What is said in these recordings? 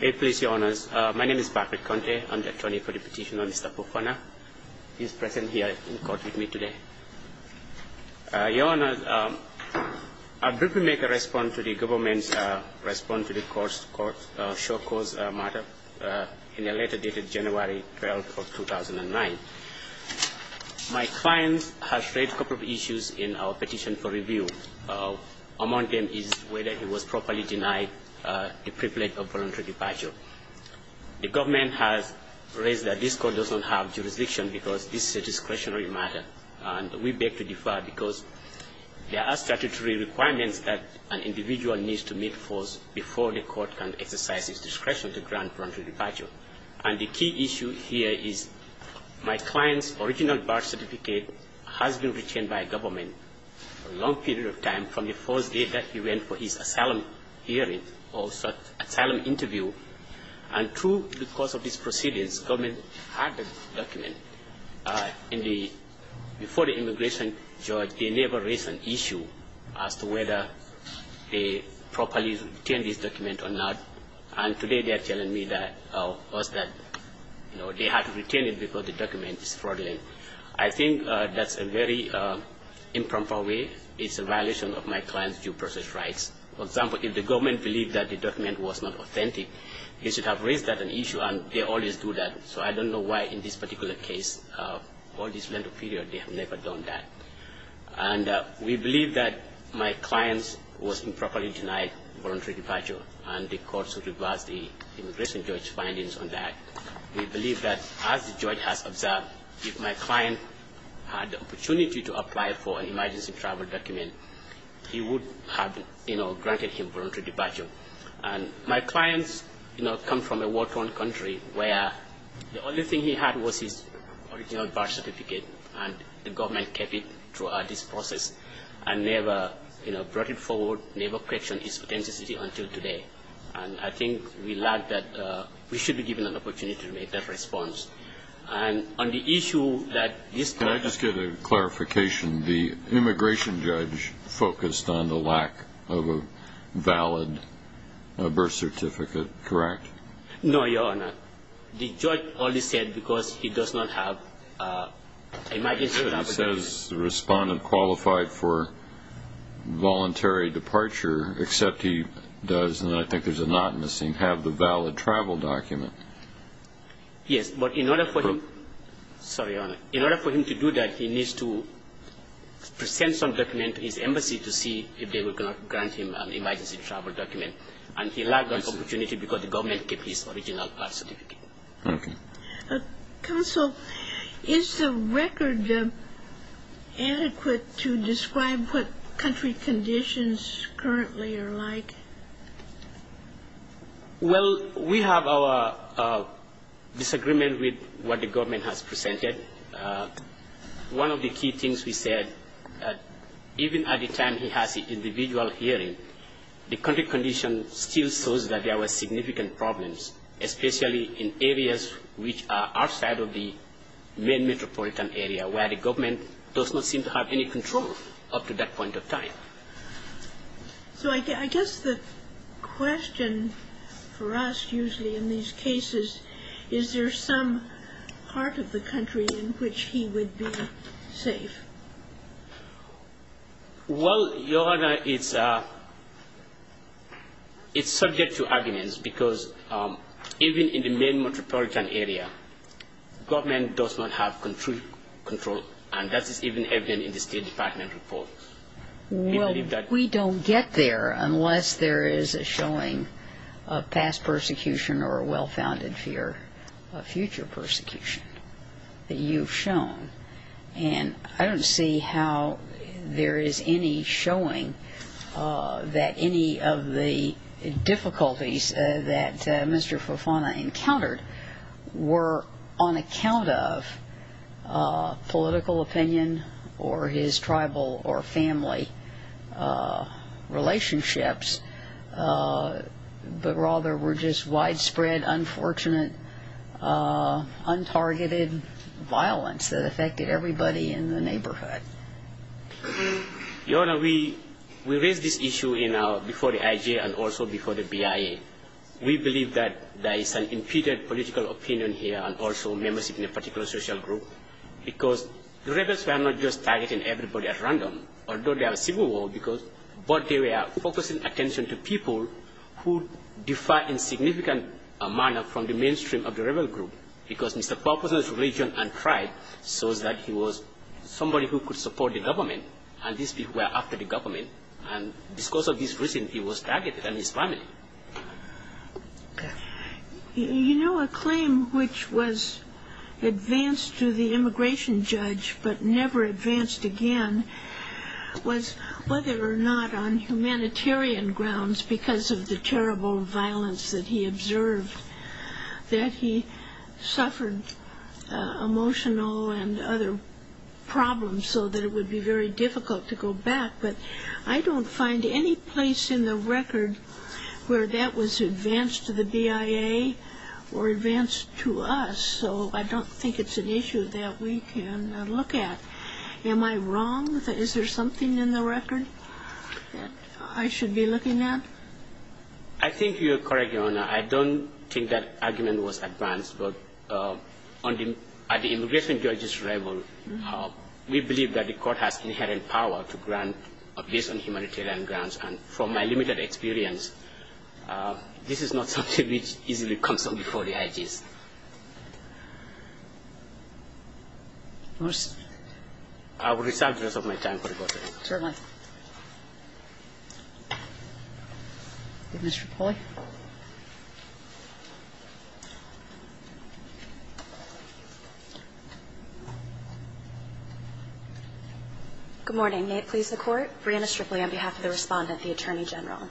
My name is Patrick Conte. I'm the attorney for the petition on Mr. Pafanah. He is present here in court with me today. Your Honours, I briefly make a response to the government's response to the short cause matter in a letter dated January 12, 2009. My client has raised a couple of issues in our petition for review. Among them is whether he was properly denied the privilege of voluntary departure. The government has raised that this court does not have jurisdiction because this is a discretionary matter. And we beg to differ because there are statutory requirements that an individual needs to meet first before the court can exercise its discretion to grant voluntary departure. And the key issue here is my client's original birth certificate has been retained by government for a long period of time, from the first day that he went for his asylum hearing or asylum interview. And true, because of these proceedings, government had the document. Before the immigration judge, they never raised an issue as to whether they properly retained this document or not. And today they are telling me that they had to retain it because the document is fraudulent. I think that's a very improper way. It's a violation of my client's due process rights. For example, if the government believed that the document was not authentic, they should have raised that an issue, and they always do that. So I don't know why in this particular case, all this length of period, they have never done that. And we believe that my client was improperly denied voluntary departure, and the court should reverse the immigration judge's findings on that. We believe that as the judge has observed, if my client had the opportunity to apply for an emergency travel document, he would have, you know, granted him voluntary departure. And my clients, you know, come from a war-torn country where the only thing he had was his original birth certificate, and the government kept it throughout this process, and never, you know, brought it forward, never questioned its authenticity until today. And I think we lack that. We should be given an opportunity to make that response. Can I just get a clarification? The immigration judge focused on the lack of a valid birth certificate, correct? No, Your Honor. The judge only said because he does not have an emergency travel document. He says the respondent qualified for voluntary departure, except he does, and I think there's a knot missing, have the valid travel document. Yes, but in order for him to do that, he needs to present some document to his embassy to see if they will grant him an emergency travel document. And he lacked that opportunity because the government kept his original birth certificate. Counsel, is the record adequate to describe what country conditions currently are like? Well, we have our disagreement with what the government has presented. One of the key things we said, even at the time he has the individual hearing, the country condition still shows that there were significant problems, especially in areas which are outside of the main metropolitan area, where the government does not seem to have any control up to that point in time. So I guess the question for us usually in these cases, is there some part of the country in which he would be safe? Well, Your Honor, it's subject to arguments because even in the main metropolitan area, government does not have control, and that is even evident in the State Department report. Well, we don't get there unless there is a showing of past persecution or a well-founded fear of future persecution that you've shown. And I don't see how there is any showing that any of the difficulties that Mr. Fofana encountered were on account of political opinion or his tribal or family relationships, but rather were just widespread, unfortunate, untargeted violence that affected everybody in the neighborhood. Your Honor, we raised this issue before the IG and also before the BIA. We believe that there is some impeded political opinion here and also membership in a particular social group, because the rebels were not just targeting everybody at random, although there was civil war, but they were focusing attention to people who differed in significant manner from the mainstream of the rebel group, because Mr. Fofana's religion and tribe shows that he was somebody who could support the government, and these people were after the government, and because of this reason, he was targeted, and his family. You know, a claim which was advanced to the immigration judge, but never advanced again, was whether or not on humanitarian grounds, because of the terrible violence that he observed, that he suffered emotional and other problems so that it would be very difficult to go back, but I don't find any place in the record where that was advanced to the BIA or advanced to us, so I don't think it's an issue that we can look at. Am I wrong? Is there something in the record that I should be looking at? I think you are correct, Your Honor. I don't think that argument was advanced, but at the immigration judge's level, we believe that the court has inherent power to grant abuse on humanitarian grounds, and from my limited experience, this is not something which easily comes up before the IGs. I will reserve the rest of my time for the court today. Certainly. Mr. Poli? Good morning. May it please the Court? Brianna Stripley on behalf of the Respondent, the Attorney General.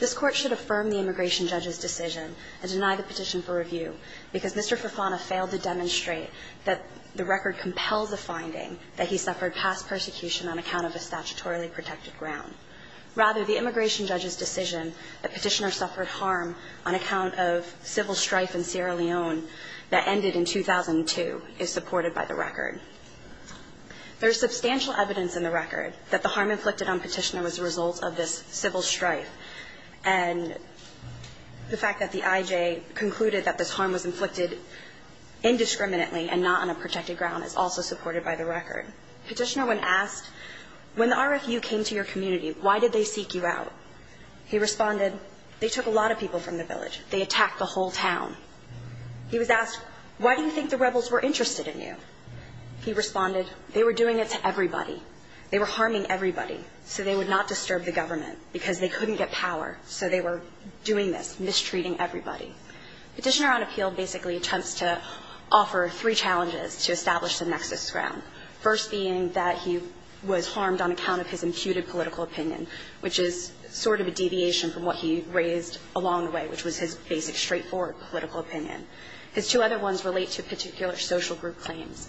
This Court should affirm the immigration judge's decision and deny the petition for review because Mr. Fofana failed to demonstrate that the record compels a finding that he suffered past persecution on account of a statutorily protected ground. Rather, the immigration judge's decision that Petitioner suffered harm on account of civil strife in Sierra Leone that ended in 2002 is supported by the record. There is substantial evidence in the record that the harm inflicted on Petitioner was a result of this civil strife, and the fact that the IJ concluded that this harm was inflicted indiscriminately and not on a protected ground is also supported by the record. Petitioner, when asked, when the RFU came to your community, why did they seek you out? He responded, they took a lot of people from the village. They attacked the whole town. He was asked, why do you think the rebels were interested in you? He responded, they were doing it to everybody. They were harming everybody so they would not disturb the government because they couldn't get power, so they were doing this, mistreating everybody. Petitioner on appeal basically attempts to offer three challenges to establish the nexus ground, first being that he was harmed on account of his imputed political opinion, which is sort of a deviation from what he raised along the way, which was his basic, straightforward political opinion. His two other ones relate to particular social group claims,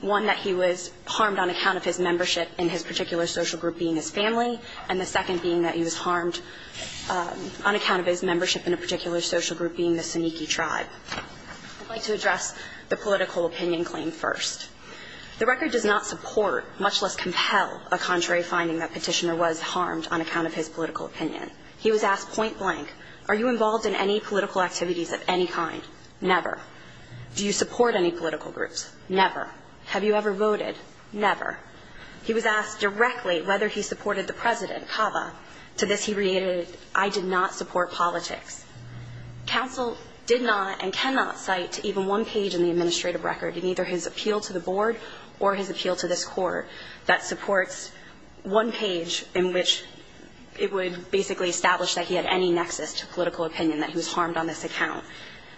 one that he was harmed on account of his membership in his particular social group being his family, and the second being that he was harmed on account of his membership in a particular social group being the Saniki tribe. I'd like to address the political opinion claim first. The record does not support, much less compel, a contrary finding that Petitioner was harmed on account of his political opinion. He was asked point blank, are you involved in any political activities of any kind? Never. Do you support any political groups? Never. Have you ever voted? Never. He was asked directly whether he supported the president, Cava. To this he reiterated, I did not support politics. Counsel did not and cannot cite even one page in the administrative record, in either his appeal to the board or his appeal to this court, that supports one page in which it would basically establish that he had any nexus to political opinion, that he was harmed on this account.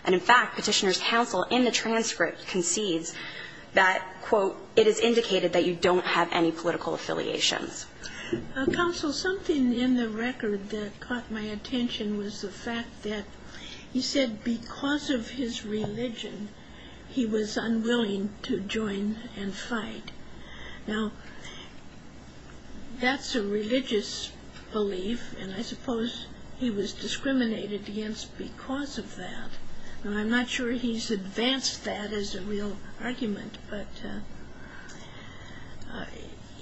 And in fact, Petitioner's counsel in the transcript concedes that, quote, it is indicated that you don't have any political affiliations. Counsel, something in the record that caught my attention was the fact that he said because of his religion, he was unwilling to join and fight. Now, that's a religious belief and I suppose he was discriminated against because of that. I'm not sure he's advanced that as a real argument, but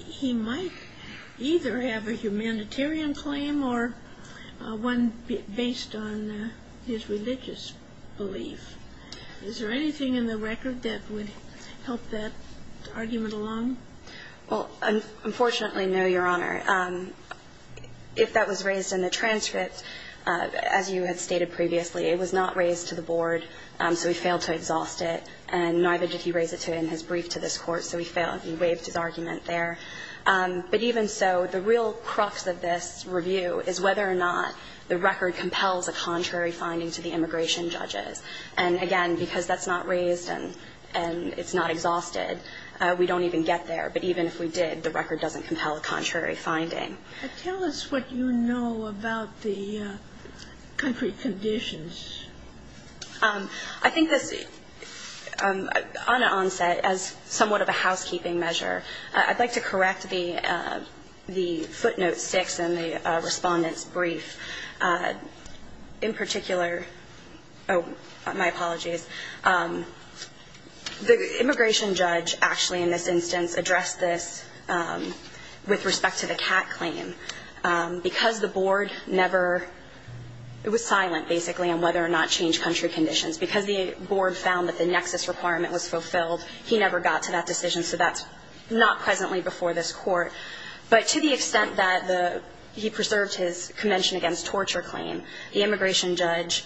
he might either have a humanitarian claim or one based on his religious belief. Is there anything in the record that would help that argument along? Well, unfortunately, no, Your Honor. If that was raised in the transcript, as you had stated previously, it was not raised to the board, so he failed to exhaust it, and neither did he raise it in his brief to this court, so he failed. He waived his argument there. But even so, the real crux of this review is whether or not the record compels a contrary finding to the immigration judges. And again, because that's not raised and it's not exhausted, we don't even get there. But even if we did, the record doesn't compel a contrary finding. Tell us what you know about the country conditions. I think this, on an onset, as somewhat of a housekeeping measure, I'd like to correct the footnote 6 in the Respondent's brief. In particular, oh, my apologies, the immigration judge actually in this instance addressed this with respect to the CAC claim. Because the board never was silent, basically, on whether or not to change country conditions. Because the board found that the nexus requirement was fulfilled, he never got to that decision. So that's not presently before this court. But to the extent that he preserved his Convention Against Torture claim, the immigration judge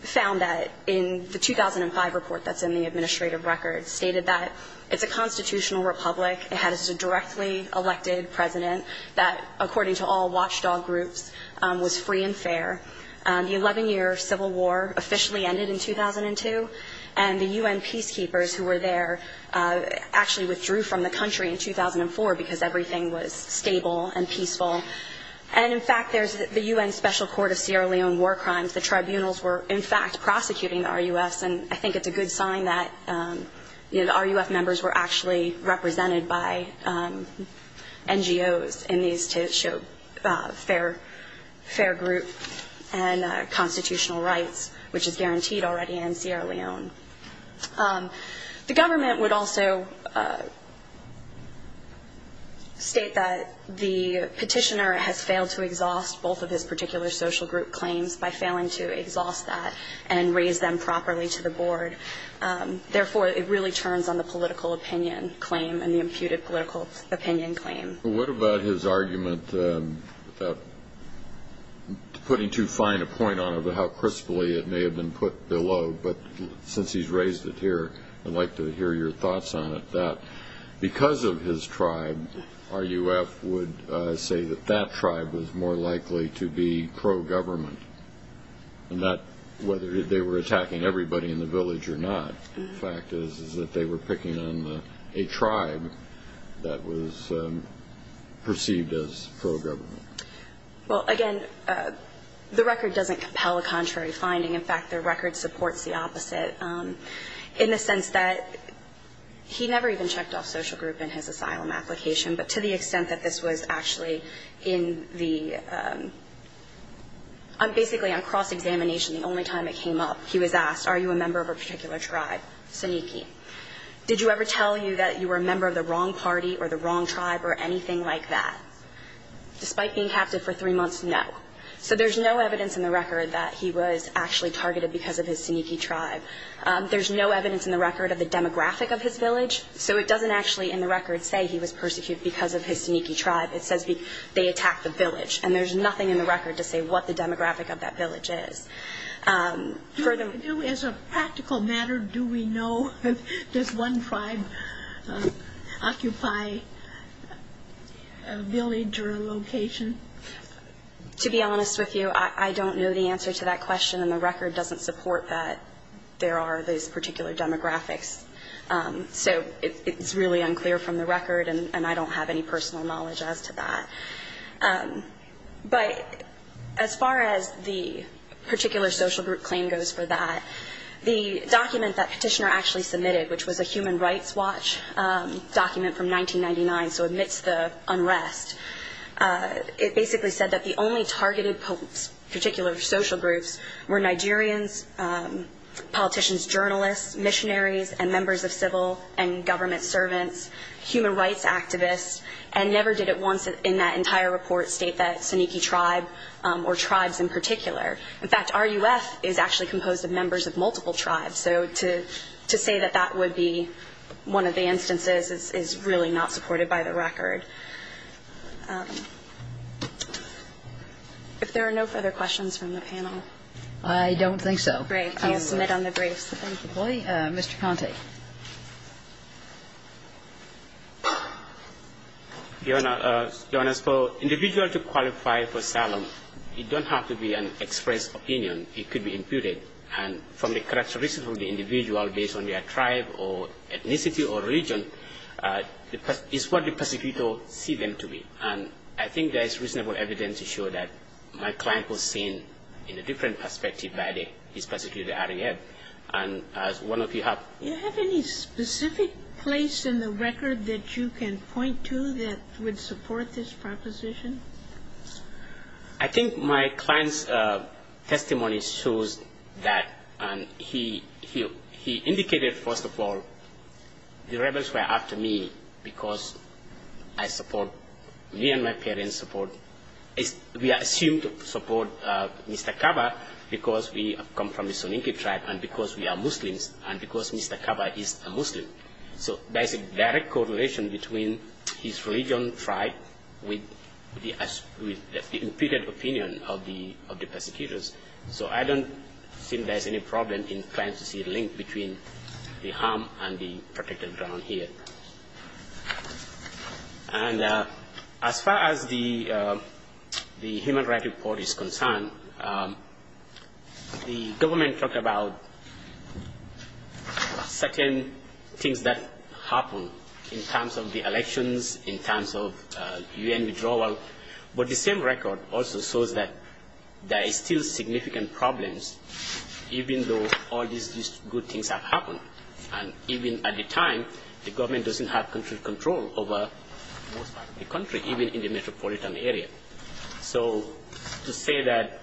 found that in the 2005 report that's in the administrative record, it stated that it's a constitutional republic. It has a directly elected president that, according to all watchdog groups, was free and fair. The 11-year civil war officially ended in 2002. And the U.N. peacekeepers who were there actually withdrew from the country in 2004 because everything was stable and peaceful. And, in fact, there's the U.N. Special Court of Sierra Leone war crimes. The tribunals were, in fact, prosecuting the RUFs. And I think it's a good sign that the RUF members were actually represented by NGOs in these to show fair group and constitutional rights, which is guaranteed already in Sierra Leone. The government would also state that the petitioner has failed to exhaust both of his particular social group claims by failing to exhaust that and raise them properly to the board. Therefore, it really turns on the political opinion claim and the imputed political opinion claim. What about his argument putting too fine a point on how crisply it may have been put below, but since he's raised it here, I'd like to hear your thoughts on it, Because of his tribe, RUF would say that that tribe was more likely to be pro-government, whether they were attacking everybody in the village or not. The fact is that they were picking on a tribe that was perceived as pro-government. Well, again, the record doesn't compel a contrary finding. In fact, the record supports the opposite in the sense that he never even checked off social group in his asylum application, but to the extent that this was actually in the ‑‑ basically on cross-examination, the only time it came up, he was asked, are you a member of a particular tribe, Saniki? Did you ever tell you that you were a member of the wrong party or the wrong tribe or anything like that? Despite being captive for three months, no. So there's no evidence in the record that he was actually targeted because of his Saniki tribe. There's no evidence in the record of the demographic of his village, so it doesn't actually in the record say he was persecuted because of his Saniki tribe. It says they attacked the village, and there's nothing in the record to say what the demographic of that village is. As a practical matter, do we know if this one tribe occupy a village or a location? To be honest with you, I don't know the answer to that question, and the record doesn't support that there are these particular demographics. So it's really unclear from the record, and I don't have any personal knowledge as to that. But as far as the particular social group claim goes for that, the document that Petitioner actually submitted, which was a human rights watch document from 1999, so amidst the unrest, it basically said that the only targeted particular social groups were Nigerians, politicians, journalists, missionaries, and members of civil and government servants, human rights activists, and never did at once in that entire report state that Saniki tribe or tribes in particular. In fact, RUF is actually composed of members of multiple tribes, so to say that that would be one of the instances is really not supported by the record. If there are no further questions from the panel. I don't think so. Great. I'll submit on the briefs. Thank you. Mr. Conte. Your Honor, for an individual to qualify for Salem, it doesn't have to be an express opinion. It could be imputed. And from the characteristics of the individual based on their tribe or ethnicity or region, it's what the prosecutor sees them to be. And I think there is reasonable evidence to show that my client was seen in a different perspective by this prosecutor at RUF. And as one of you have. Do you have any specific place in the record that you can point to that would support this proposition? I think my client's testimony shows that. And he indicated, first of all, the rebels were after me because I support me and my parents support. We are assumed to support Mr. Kaba because we come from the Saniki tribe and because we are Muslims and because Mr. Kaba is a Muslim. So there's a direct correlation between his religion, tribe, with the imputed opinion of the prosecutors. So I don't think there's any problem in trying to see a link between the harm and the protected ground here. And as far as the human right report is concerned, the government talked about certain things that happened in terms of the elections, in terms of U.N. withdrawal. But the same record also shows that there is still significant problems, even though all these good things have happened. And even at the time, the government doesn't have control over most parts of the country, even in the metropolitan area. So to say that,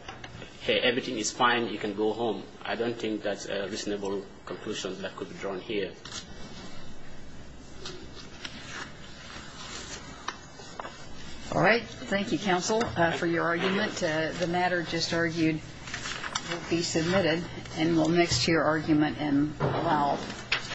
hey, everything is fine, you can go home, I don't think that's a reasonable conclusion that could be drawn here. All right. Thank you, counsel, for your argument. The matter just argued will be submitted and will mix to your argument and allowed.